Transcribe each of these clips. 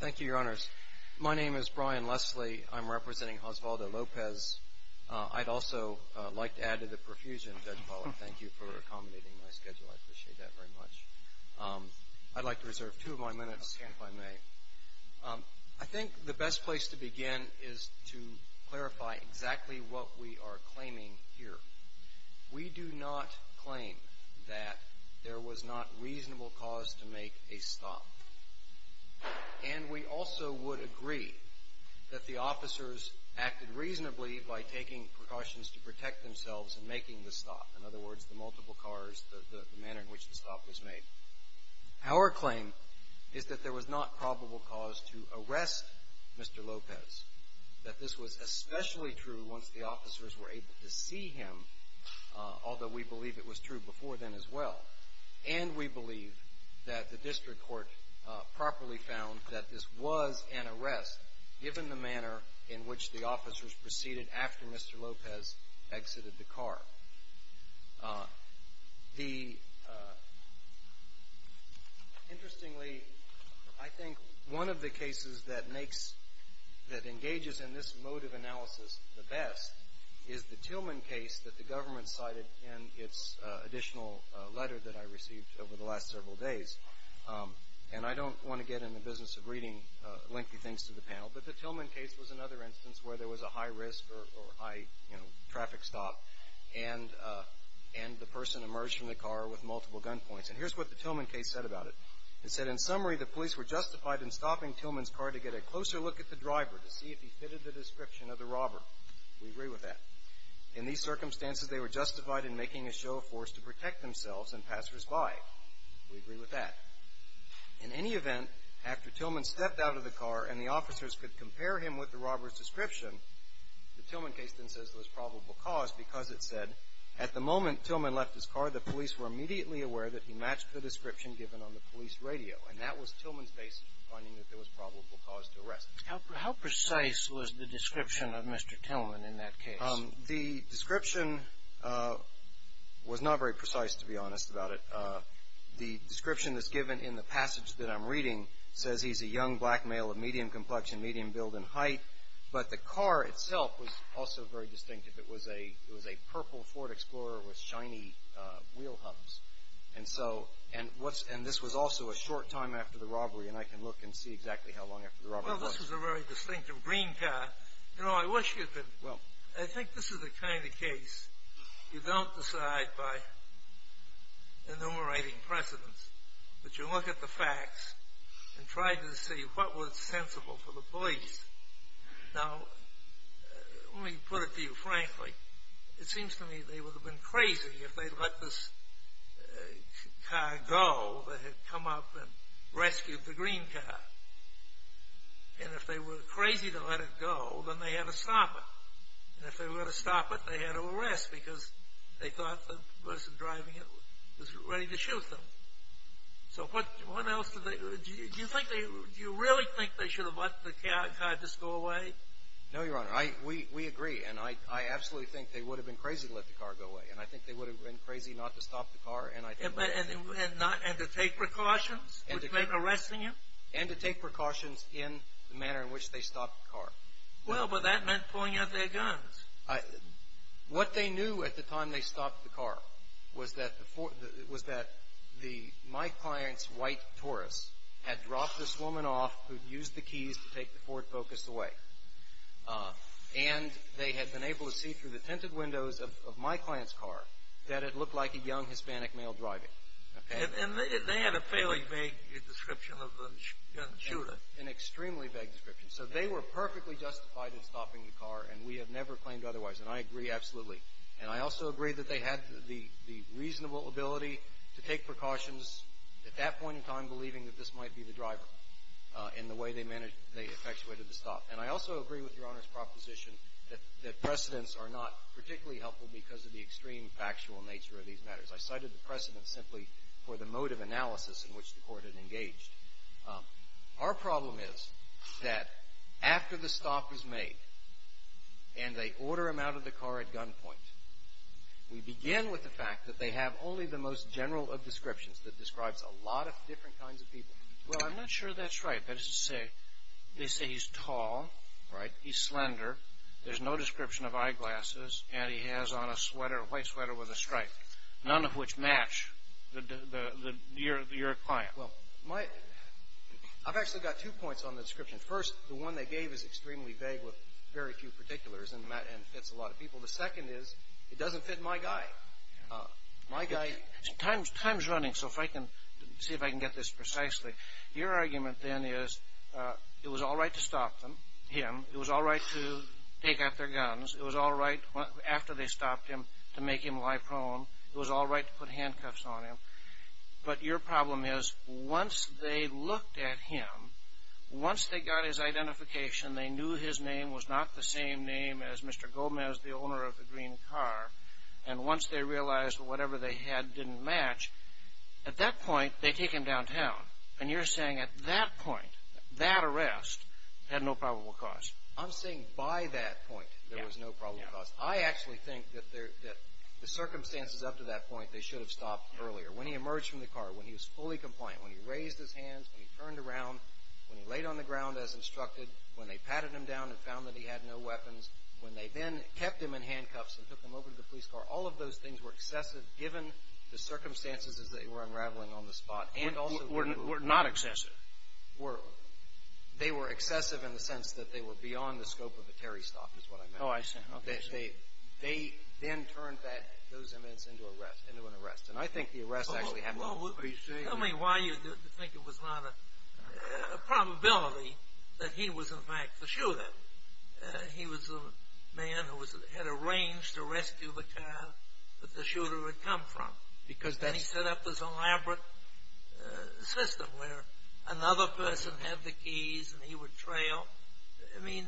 Thank you, Your Honors. My name is Brian Leslie. I'm representing Osvaldo Lopez. I'd also like to add to the profusion, Judge Pollack, thank you for accommodating my schedule. I appreciate that very much. I'd like to reserve two of my minutes, if I may. I think the best place to begin is to clarify exactly what we are claiming here. We do not claim that there was not reasonable cause to make a stop. And we also would agree that the officers acted reasonably by taking precautions to protect themselves in making the stop. In other words, the multiple cars, the manner in which the stop was made. Our claim is that there was not probable cause to arrest Mr. Lopez, that this was especially true once the officers were able to see him, although we believe it was true before then as well. And we believe that the district court properly found that this was an arrest given the manner in which the officers proceeded after Mr. Lopez exited the car. Interestingly, I think one of the cases that engages in this mode of analysis the best is the Tillman case that the government cited in its additional letter that I received over the last several days. And I don't want to get in the business of reading lengthy things to the panel, but the Tillman case was another instance where there was a high risk or high, you know, traffic stop, and the person emerged from the car with multiple gun points. And here's what the Tillman case said about it. It said, in summary, the police were justified in stopping Tillman's car to get a closer look at the driver to see if he fitted the description of the robber. We agree with that. In these circumstances, they were justified in making a show of force to protect themselves and passersby. We agree with that. In any event, after Tillman stepped out of the car and the officers could compare him with the robber's description, the Tillman case then says there was probable cause because it said, at the moment Tillman left his car, the police were immediately aware that he matched the description given on the police radio. And that was Tillman's basis for finding that there was probable cause to arrest him. How precise was the description of Mr. Tillman in that case? The description was not very precise, to be honest about it. The description that's given in the passage that I'm reading says he's a young black male of medium complexion, medium build, and height. But the car itself was also very distinctive. It was a purple Ford Explorer with shiny wheel hubs. And this was also a short time after the robbery, and I can look and see exactly how long after the robbery it was. Well, this was a very distinctive green car. You know, I wish you could – I think this is the kind of case you don't decide by enumerating precedents, but you look at the facts and try to see what was sensible for the police. Now, let me put it to you frankly. It seems to me they would have been crazy if they let this car go that had come up and rescued the green car. And if they were crazy to let it go, then they had to stop it. And if they were going to stop it, they had to arrest because they thought the person driving it was ready to shoot them. So what else did they – do you think they – do you really think they should have let the car just go away? No, Your Honor. We agree, and I absolutely think they would have been crazy to let the car go away. And I think they would have been crazy not to stop the car. And to take precautions, which meant arresting him? And to take precautions in the manner in which they stopped the car. Well, but that meant pulling out their guns. What they knew at the time they stopped the car was that my client's white Taurus had dropped this woman off who had used the keys to take the Ford Focus away. And they had been able to see through the tinted windows of my client's car that it looked like a young Hispanic male driving. And they had a fairly vague description of the young shooter. An extremely vague description. So they were perfectly justified in stopping the car, and we have never claimed otherwise. And I agree absolutely. And I also agree that they had the reasonable ability to take precautions at that point in time, believing that this might be the driver in the way they managed – they effectuated the stop. And I also agree with Your Honor's proposition that precedents are not particularly helpful because of the extreme factual nature of these matters. I cited the precedent simply for the mode of analysis in which the court had engaged. Our problem is that after the stop is made and they order him out of the car at gunpoint, we begin with the fact that they have only the most general of descriptions that describes a lot of different kinds of people. Well, I'm not sure that's right. That is to say, they say he's tall, right? He's slender. There's no description of eyeglasses. And he has on a sweater, a white sweater with a stripe, none of which match your client. Well, my – I've actually got two points on the description. First, the one they gave is extremely vague with very few particulars and fits a lot of people. The second is it doesn't fit my guy. My guy – Time's running, so if I can – see if I can get this precisely. Your argument then is it was all right to stop them, him. It was all right to take out their guns. It was all right after they stopped him to make him lie prone. It was all right to put handcuffs on him. But your problem is once they looked at him, once they got his identification, they knew his name was not the same name as Mr. Gomez, the owner of the green car, and once they realized whatever they had didn't match, at that point they take him downtown. And you're saying at that point, that arrest had no probable cause. I'm saying by that point there was no probable cause. I actually think that the circumstances up to that point, they should have stopped earlier. When he emerged from the car, when he was fully compliant, when he raised his hands, when he turned around, when he laid on the ground as instructed, when they patted him down and found that he had no weapons, when they then kept him in handcuffs and took him over to the police car, all of those things were excessive given the circumstances as they were unraveling on the spot. Were not excessive. They were excessive in the sense that they were beyond the scope of a Terry stop is what I meant. Oh, I see. They then turned those inmates into an arrest. And I think the arrest actually had more appreciation. Tell me why you think it was not a probability that he was in fact the shooter. He was the man who had arranged to rescue the car that the shooter had come from. And he set up this elaborate system where another person had the keys and he would trail. I mean,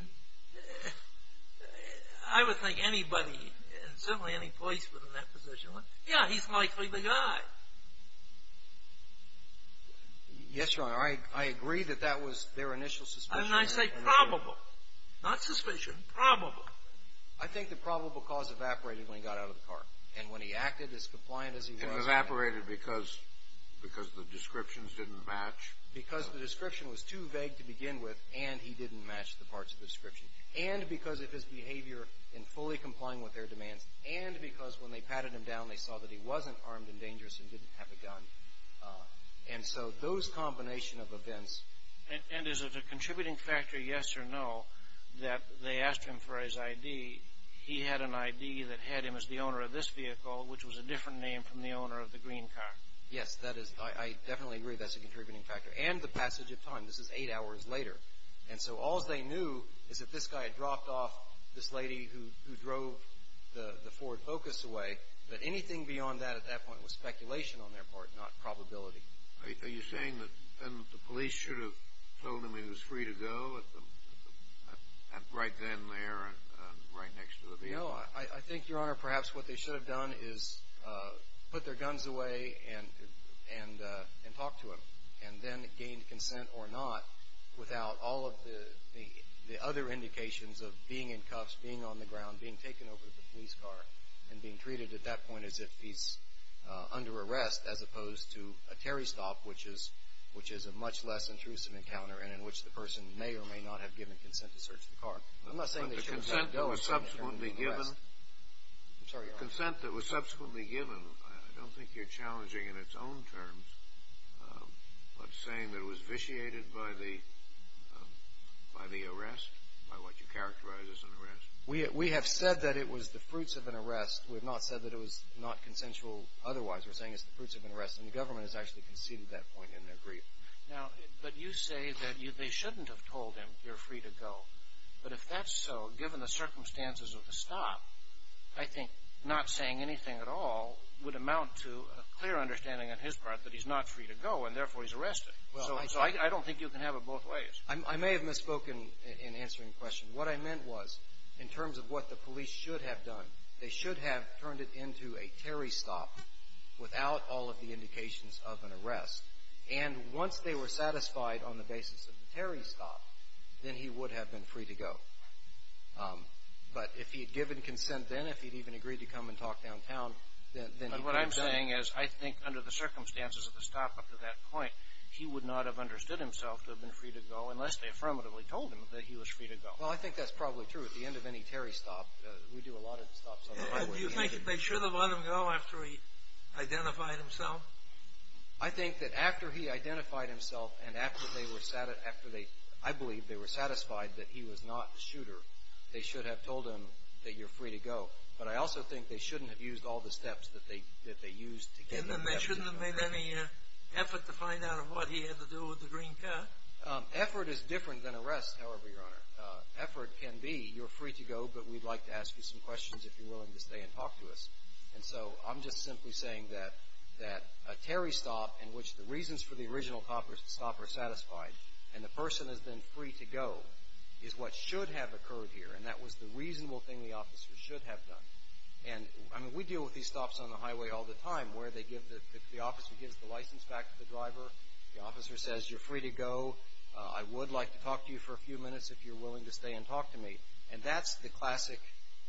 I would think anybody, and certainly any policeman in that position, yeah, he's likely the guy. Yes, Your Honor, I agree that that was their initial suspicion. And I say probable, not suspicion, probable. I think the probable cause evaporated when he got out of the car. And when he acted as compliant as he was. It evaporated because the descriptions didn't match. Because the description was too vague to begin with and he didn't match the parts of the description. And because of his behavior in fully complying with their demands and because when they patted him down, they saw that he wasn't armed and dangerous and didn't have a gun. And so those combination of events. And is it a contributing factor, yes or no, that they asked him for his ID? He had an ID that had him as the owner of this vehicle, which was a different name from the owner of the green car. Yes, that is. I definitely agree that's a contributing factor. And the passage of time. This is eight hours later. And so all they knew is that this guy had dropped off this lady who drove the Ford Focus away. But anything beyond that at that point was speculation on their part, not probability. Are you saying that the police should have told him he was free to go right then, there, and right next to the vehicle? No, I think, Your Honor, perhaps what they should have done is put their guns away and talk to him. And then gain consent or not without all of the other indications of being in cuffs, being on the ground, being taken over with a police car, and being treated at that point as if he's under arrest, as opposed to a Terry stop, which is a much less intrusive encounter and in which the person may or may not have given consent to search the car. I'm not saying they shouldn't have let him go. I'm sorry, Your Honor. What, saying that it was vitiated by the arrest, by what you characterize as an arrest? We have said that it was the fruits of an arrest. We have not said that it was not consensual otherwise. We're saying it's the fruits of an arrest. And the government has actually conceded that point in their brief. Now, but you say that they shouldn't have told him you're free to go. But if that's so, given the circumstances of the stop, I think not saying anything at all would amount to a clear understanding on his part that he's not free to go and therefore he's arrested. So I don't think you can have it both ways. I may have misspoken in answering the question. What I meant was in terms of what the police should have done, they should have turned it into a Terry stop without all of the indications of an arrest. And once they were satisfied on the basis of the Terry stop, then he would have been free to go. But if he had given consent then, if he had even agreed to come and talk downtown, then he could have done it. What I'm saying is I think under the circumstances of the stop up to that point, he would not have understood himself to have been free to go unless they affirmatively told him that he was free to go. Well, I think that's probably true. At the end of any Terry stop, we do a lot of stops on the highway. Do you think they should have let him go after he identified himself? I think that after he identified himself and after they were satisfied that he was not the shooter, they should have told him that you're free to go. But I also think they shouldn't have used all the steps that they used to get him to have you know. And then they shouldn't have made any effort to find out what he had to do with the green car? Effort is different than arrest, however, Your Honor. Effort can be you're free to go, but we'd like to ask you some questions if you're willing to stay and talk to us. And so I'm just simply saying that a Terry stop in which the reasons for the original stop are satisfied and the person has been free to go is what should have occurred here, and that was the reasonable thing the officer should have done. And I mean we deal with these stops on the highway all the time where they give the, the officer gives the license back to the driver. The officer says you're free to go. I would like to talk to you for a few minutes if you're willing to stay and talk to me. And that's the classic,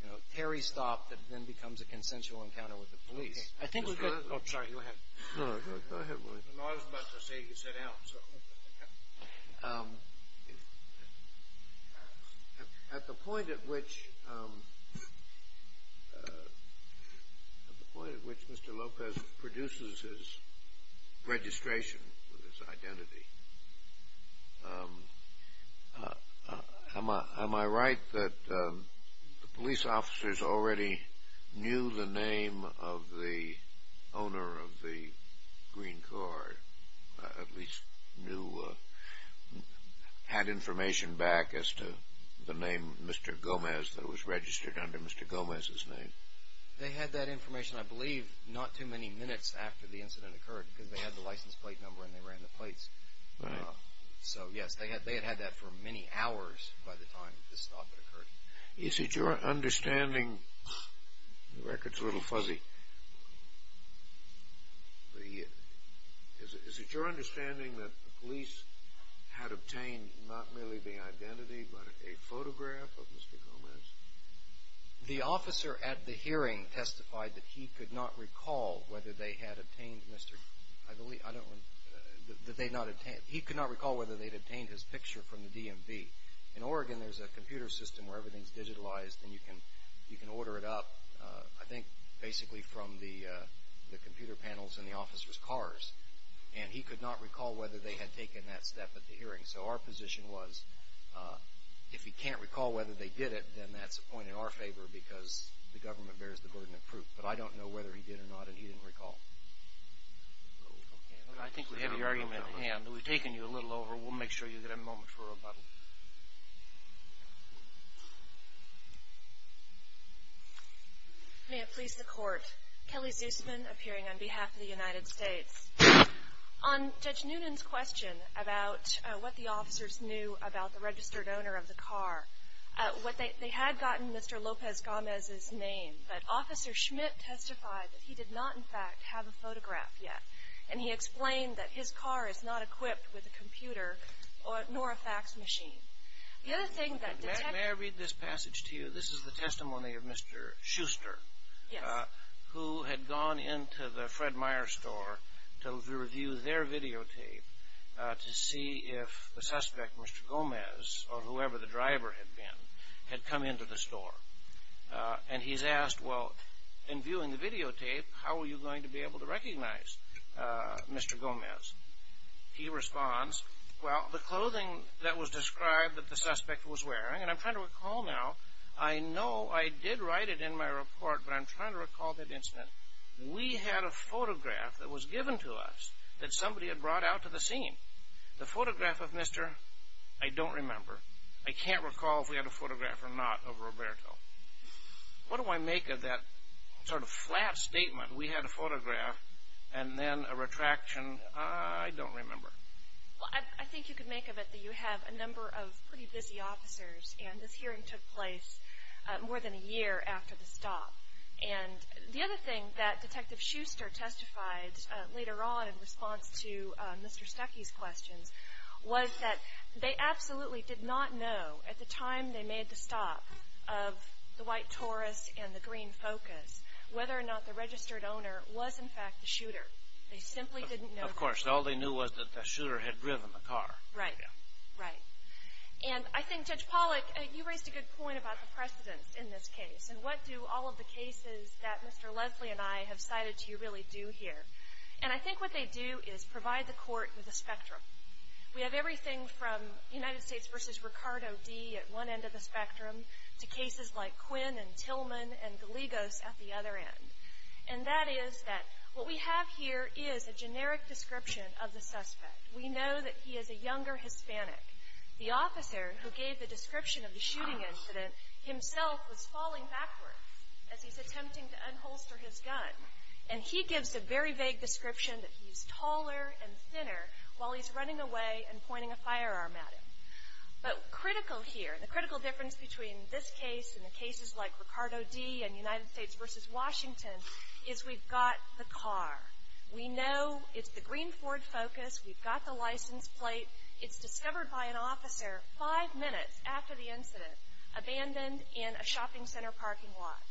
you know, Terry stop that then becomes a consensual encounter with the police. I think we could. Oh, sorry, go ahead. No, no, go ahead. I was about to say you could sit down. I'm sorry. At the point at which, at the point at which Mr. Lopez produces his registration with his identity, am I right that the police officers already knew the name of the owner of the green card, at least knew, had information back as to the name Mr. Gomez that was registered under Mr. Gomez's name? They had that information I believe not too many minutes after the incident occurred because they had the license plate number and they ran the plates. Right. So, yes, they had had that for many hours by the time this thought occurred. Is it your understanding, the record's a little fuzzy, is it your understanding that the police had obtained not merely the identity but a photograph of Mr. Gomez? The officer at the hearing testified that he could not recall whether they had obtained Mr., that they had not, he could not recall whether they had obtained his picture from the DMV. In Oregon there's a computer system where everything's digitalized and you can order it up, I think basically from the computer panels in the officer's cars, and he could not recall whether they had taken that step at the hearing. So our position was if he can't recall whether they did it, then that's a point in our favor because the government bears the burden of proof. But I don't know whether he did or not and he didn't recall. Okay. I think we have your argument at hand. We've taken you a little over. We'll make sure you get a moment for rebuttal. May it please the Court. Kelly Zusman, appearing on behalf of the United States. On Judge Noonan's question about what the officers knew about the registered owner of the car, they had gotten Mr. Lopez Gomez's name, but Officer Schmidt testified that he did not, in fact, have a photograph yet, and he explained that his car is not equipped with a computer nor a fax machine. The other thing that detects- May I read this passage to you? This is the testimony of Mr. Schuster- Yes. who had gone into the Fred Meyer store to review their videotape to see if the suspect, Mr. Gomez, or whoever the driver had been, had come into the store. And he's asked, well, in viewing the videotape, how are you going to be able to recognize Mr. Gomez? He responds, well, the clothing that was described that the suspect was wearing- and I'm trying to recall now. I know I did write it in my report, but I'm trying to recall that incident. We had a photograph that was given to us that somebody had brought out to the scene. The photograph of Mr. I don't remember. I can't recall if we had a photograph or not of Roberto. What do I make of that sort of flat statement? We had a photograph and then a retraction. I don't remember. Well, I think you could make of it that you have a number of pretty busy officers, and this hearing took place more than a year after the stop. And the other thing that Detective Shuster testified later on in response to Mr. Stuckey's questions was that they absolutely did not know at the time they made the stop of the white Taurus and the green Focus whether or not the registered owner was, in fact, the shooter. They simply didn't know that. Of course. All they knew was that the shooter had driven the car. Right. Right. And I think, Judge Pollack, you raised a good point about the precedence in this case. And what do all of the cases that Mr. Leslie and I have cited to you really do here? And I think what they do is provide the court with a spectrum. We have everything from United States v. Ricardo D. at one end of the spectrum to cases like Quinn and Tillman and Gallegos at the other end. And that is that what we have here is a generic description of the suspect. We know that he is a younger Hispanic. The officer who gave the description of the shooting incident himself was falling backwards as he's attempting to unholster his gun. And he gives a very vague description that he's taller and thinner while he's running away and pointing a firearm at him. But critical here, the critical difference between this case and the cases like Ricardo D. and United States v. Washington is we've got the car. We know it's the green Ford Focus. We've got the license plate. It's discovered by an officer five minutes after the incident, abandoned in a shopping center parking lot.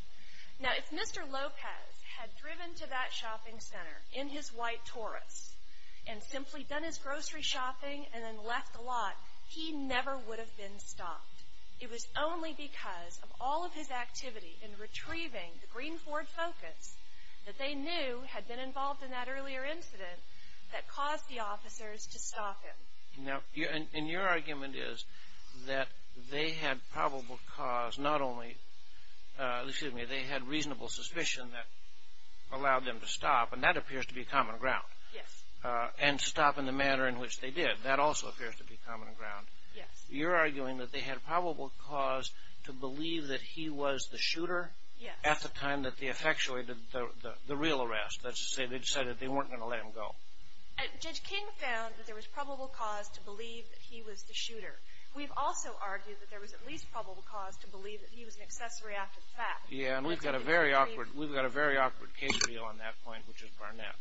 Now, if Mr. Lopez had driven to that shopping center in his white Taurus and simply done his grocery shopping and then left the lot, he never would have been stopped. It was only because of all of his activity in retrieving the green Ford Focus that they knew had been involved in that earlier incident that caused the officers to stop him. Now, and your argument is that they had probable cause not only, excuse me, they had reasonable suspicion that allowed them to stop, and that appears to be common ground. Yes. And stop in the manner in which they did. That also appears to be common ground. Yes. At the time that they effectuated the real arrest. That's to say they decided they weren't going to let him go. Judge King found that there was probable cause to believe that he was the shooter. We've also argued that there was at least probable cause to believe that he was an accessory after the fact. Yeah, and we've got a very awkward case for you on that point, which is Barnett.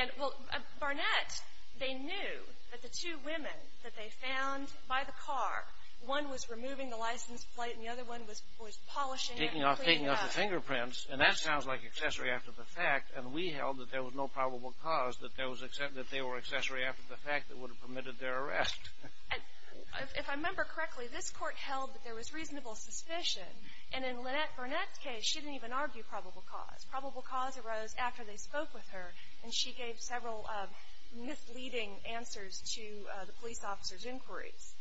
And, well, Barnett, they knew that the two women that they found by the car, one was removing the license plate and the other one was polishing it and cleaning it up. Taking off the fingerprints, and that sounds like accessory after the fact, and we held that there was no probable cause that they were accessory after the fact that would have permitted their arrest. If I remember correctly, this court held that there was reasonable suspicion, and in Barnett's case she didn't even argue probable cause. Probable cause arose after they spoke with her, and she gave several misleading answers to the police officers' inquiries.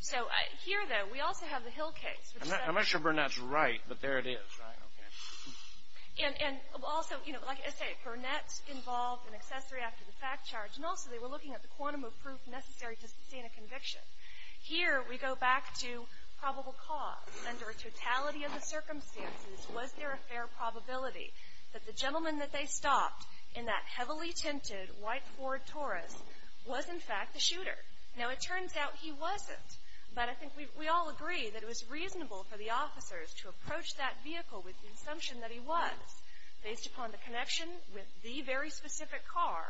So here, though, we also have the Hill case. I'm not sure Barnett's right, but there it is, right? And also, you know, like I say, Barnett's involved in accessory after the fact charge, and also they were looking at the quantum of proof necessary to sustain a conviction. Here we go back to probable cause. Under a totality of the circumstances, was there a fair probability that the gentleman that they stopped in that heavily tinted white Ford Taurus was, in fact, the shooter? Now, it turns out he wasn't, but I think we all agree that it was reasonable for the officers to approach that vehicle with the assumption that he was, based upon the connection with the very specific car,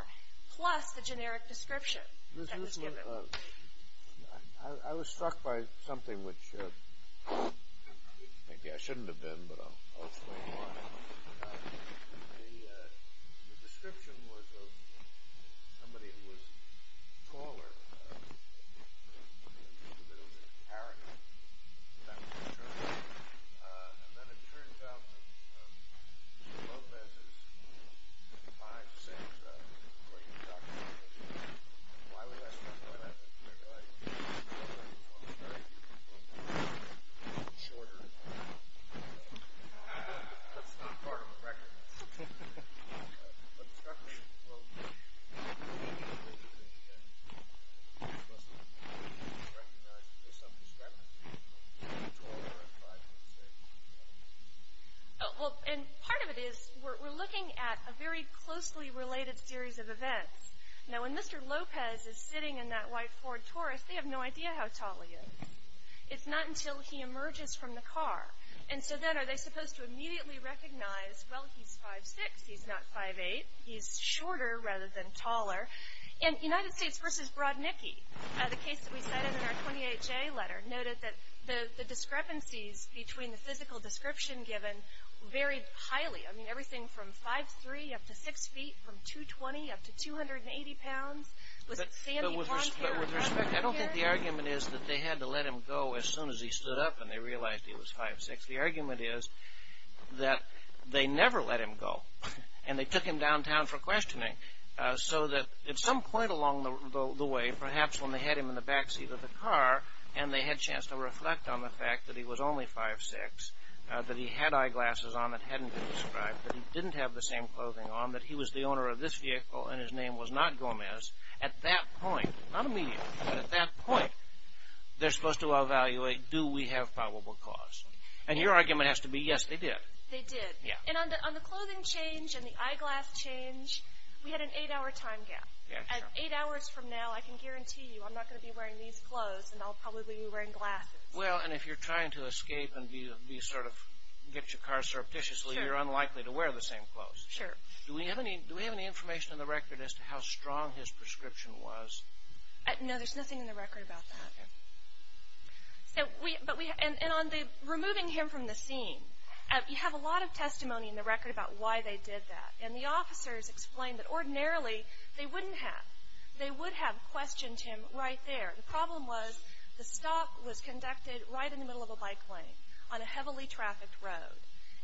plus the generic description that was given. I was struck by something which maybe I shouldn't have been, but I'll explain why. The description was of somebody who was taller. It was a bit of an arrogance, if that was true. And then it turns out that Lopez is 5'6", according to the doctor's information. Why would I stress all that? Well, I didn't want to stress it. He was shorter. That's not part of the record. Well, part of it is we're looking at a very closely related series of events. Now, when Mr. Lopez is sitting in that white Ford Taurus, they have no idea how tall he is. It's not until he emerges from the car. And so then are they supposed to immediately recognize, well, he's 5'6", he's not 5'8". He's shorter rather than taller. In United States v. Broadnicki, the case that we cited in our 20HA letter, noted that the discrepancies between the physical description given varied highly. I mean, everything from 5'3", up to 6 feet, from 220, up to 280 pounds. Was it Sammy Bontemps? Yes, but with respect, I don't think the argument is that they had to let him go as soon as he stood up and they realized he was 5'6". The argument is that they never let him go. And they took him downtown for questioning. So that at some point along the way, perhaps when they had him in the backseat of the car, and they had a chance to reflect on the fact that he was only 5'6", that he had eyeglasses on that hadn't been described, that he didn't have the same clothing on, that he was the owner of this vehicle and his name was not Gomez. At that point, not immediately, but at that point, they're supposed to evaluate, do we have probable cause? And your argument has to be, yes, they did. They did. And on the clothing change and the eyeglass change, we had an 8-hour time gap. At 8 hours from now, I can guarantee you I'm not going to be wearing these clothes and I'll probably be wearing glasses. Well, and if you're trying to escape and get your car surreptitiously, you're unlikely to wear the same clothes. Sure. Do we have any information in the record as to how strong his prescription was? No, there's nothing in the record about that. Okay. And on the removing him from the scene, you have a lot of testimony in the record about why they did that. And the officers explained that ordinarily they wouldn't have. They would have questioned him right there. The problem was the stop was conducted right in the middle of a bike lane on a heavily trafficked road.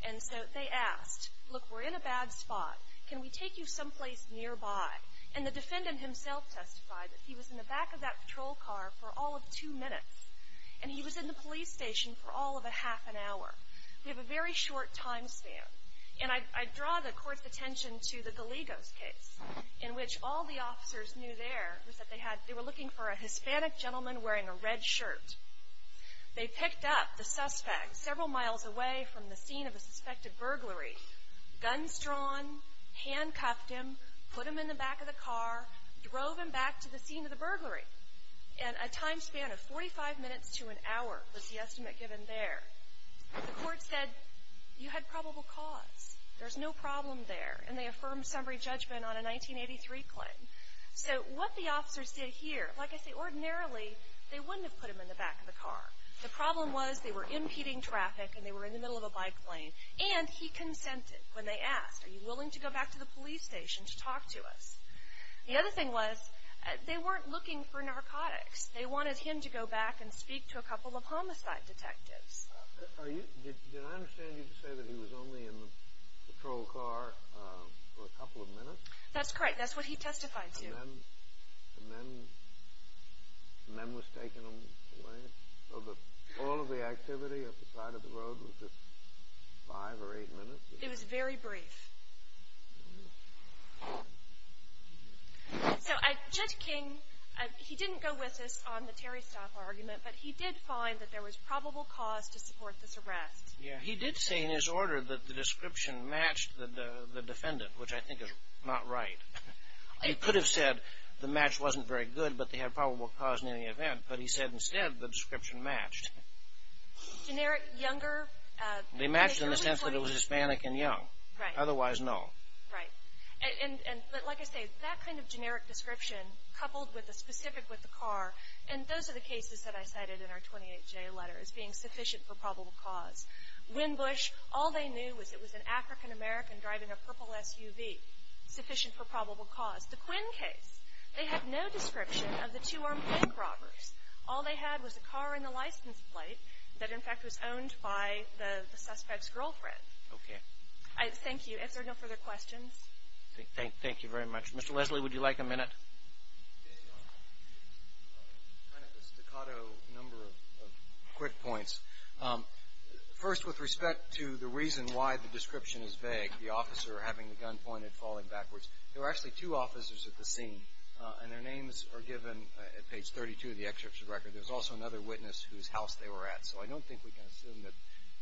And so they asked, look, we're in a bad spot. Can we take you someplace nearby? And the defendant himself testified that he was in the back of that patrol car for all of two minutes. And he was in the police station for all of a half an hour. We have a very short time span. And I draw the court's attention to the Gallegos case in which all the officers knew there was that they were looking for a Hispanic gentleman wearing a red shirt. They picked up the suspect several miles away from the scene of a suspected burglary, guns drawn, handcuffed him, put him in the back of the car, drove him back to the scene of the burglary. And a time span of 45 minutes to an hour was the estimate given there. The court said, you had probable cause. There's no problem there. And they affirmed summary judgment on a 1983 claim. So what the officers did here, like I say, The problem was they were impeding traffic and they were in the middle of a bike lane. And he consented when they asked, are you willing to go back to the police station to talk to us? The other thing was they weren't looking for narcotics. They wanted him to go back and speak to a couple of homicide detectives. Did I understand you to say that he was only in the patrol car for a couple of minutes? That's correct. That's what he testified to. And then the men were taken away? So all of the activity at the side of the road was just five or eight minutes? It was very brief. So Judge King, he didn't go with us on the Terry Stoff argument, but he did find that there was probable cause to support this arrest. Yeah, he did say in his order that the description matched the defendant, which I think is not right. He could have said the match wasn't very good but they had probable cause in any event, but he said instead the description matched. Generic, younger. They matched in the sense that it was Hispanic and young. Right. Otherwise, no. Right. But like I say, that kind of generic description coupled with the specific with the car, and those are the cases that I cited in our 28-J letter as being sufficient for probable cause. Winbush, all they knew was it was an African-American driving a purple SUV, sufficient for probable cause. The Quinn case, they have no description of the two-armed bank robbers. All they had was a car and a license plate that, in fact, was owned by the suspect's girlfriend. Okay. Thank you. If there are no further questions. Thank you very much. Mr. Leslie, would you like a minute? Kind of a staccato number of quick points. First, with respect to the reason why the description is vague, the officer having the gun pointed, falling backwards, there were actually two officers at the scene, and their names are given at page 32 of the excerpt of the record. There was also another witness whose house they were at, so I don't think we can assume that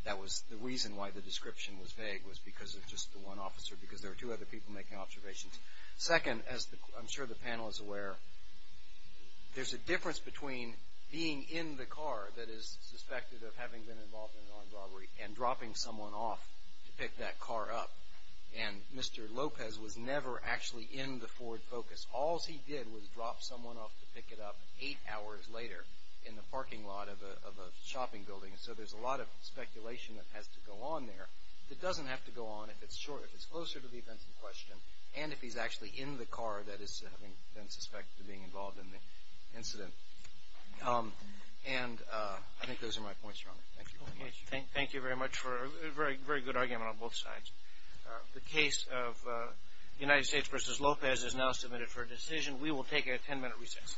that was the reason why the description was vague, was because of just the one officer, because there were two other people making observations. Second, as I'm sure the panel is aware, there's a difference between being in the car that is suspected of having been involved in an armed robbery and dropping someone off to pick that car up, and Mr. Lopez was never actually in the Ford Focus. All he did was drop someone off to pick it up eight hours later in the parking lot of a shopping building, so there's a lot of speculation that has to go on there that doesn't have to go on if it's closer to the events in question and if he's actually in the car that is having been suspected of being involved in the incident. And I think those are my points, Your Honor. Thank you very much. Thank you very much for a very good argument on both sides. The case of United States v. Lopez is now submitted for decision. We will take a ten-minute recess.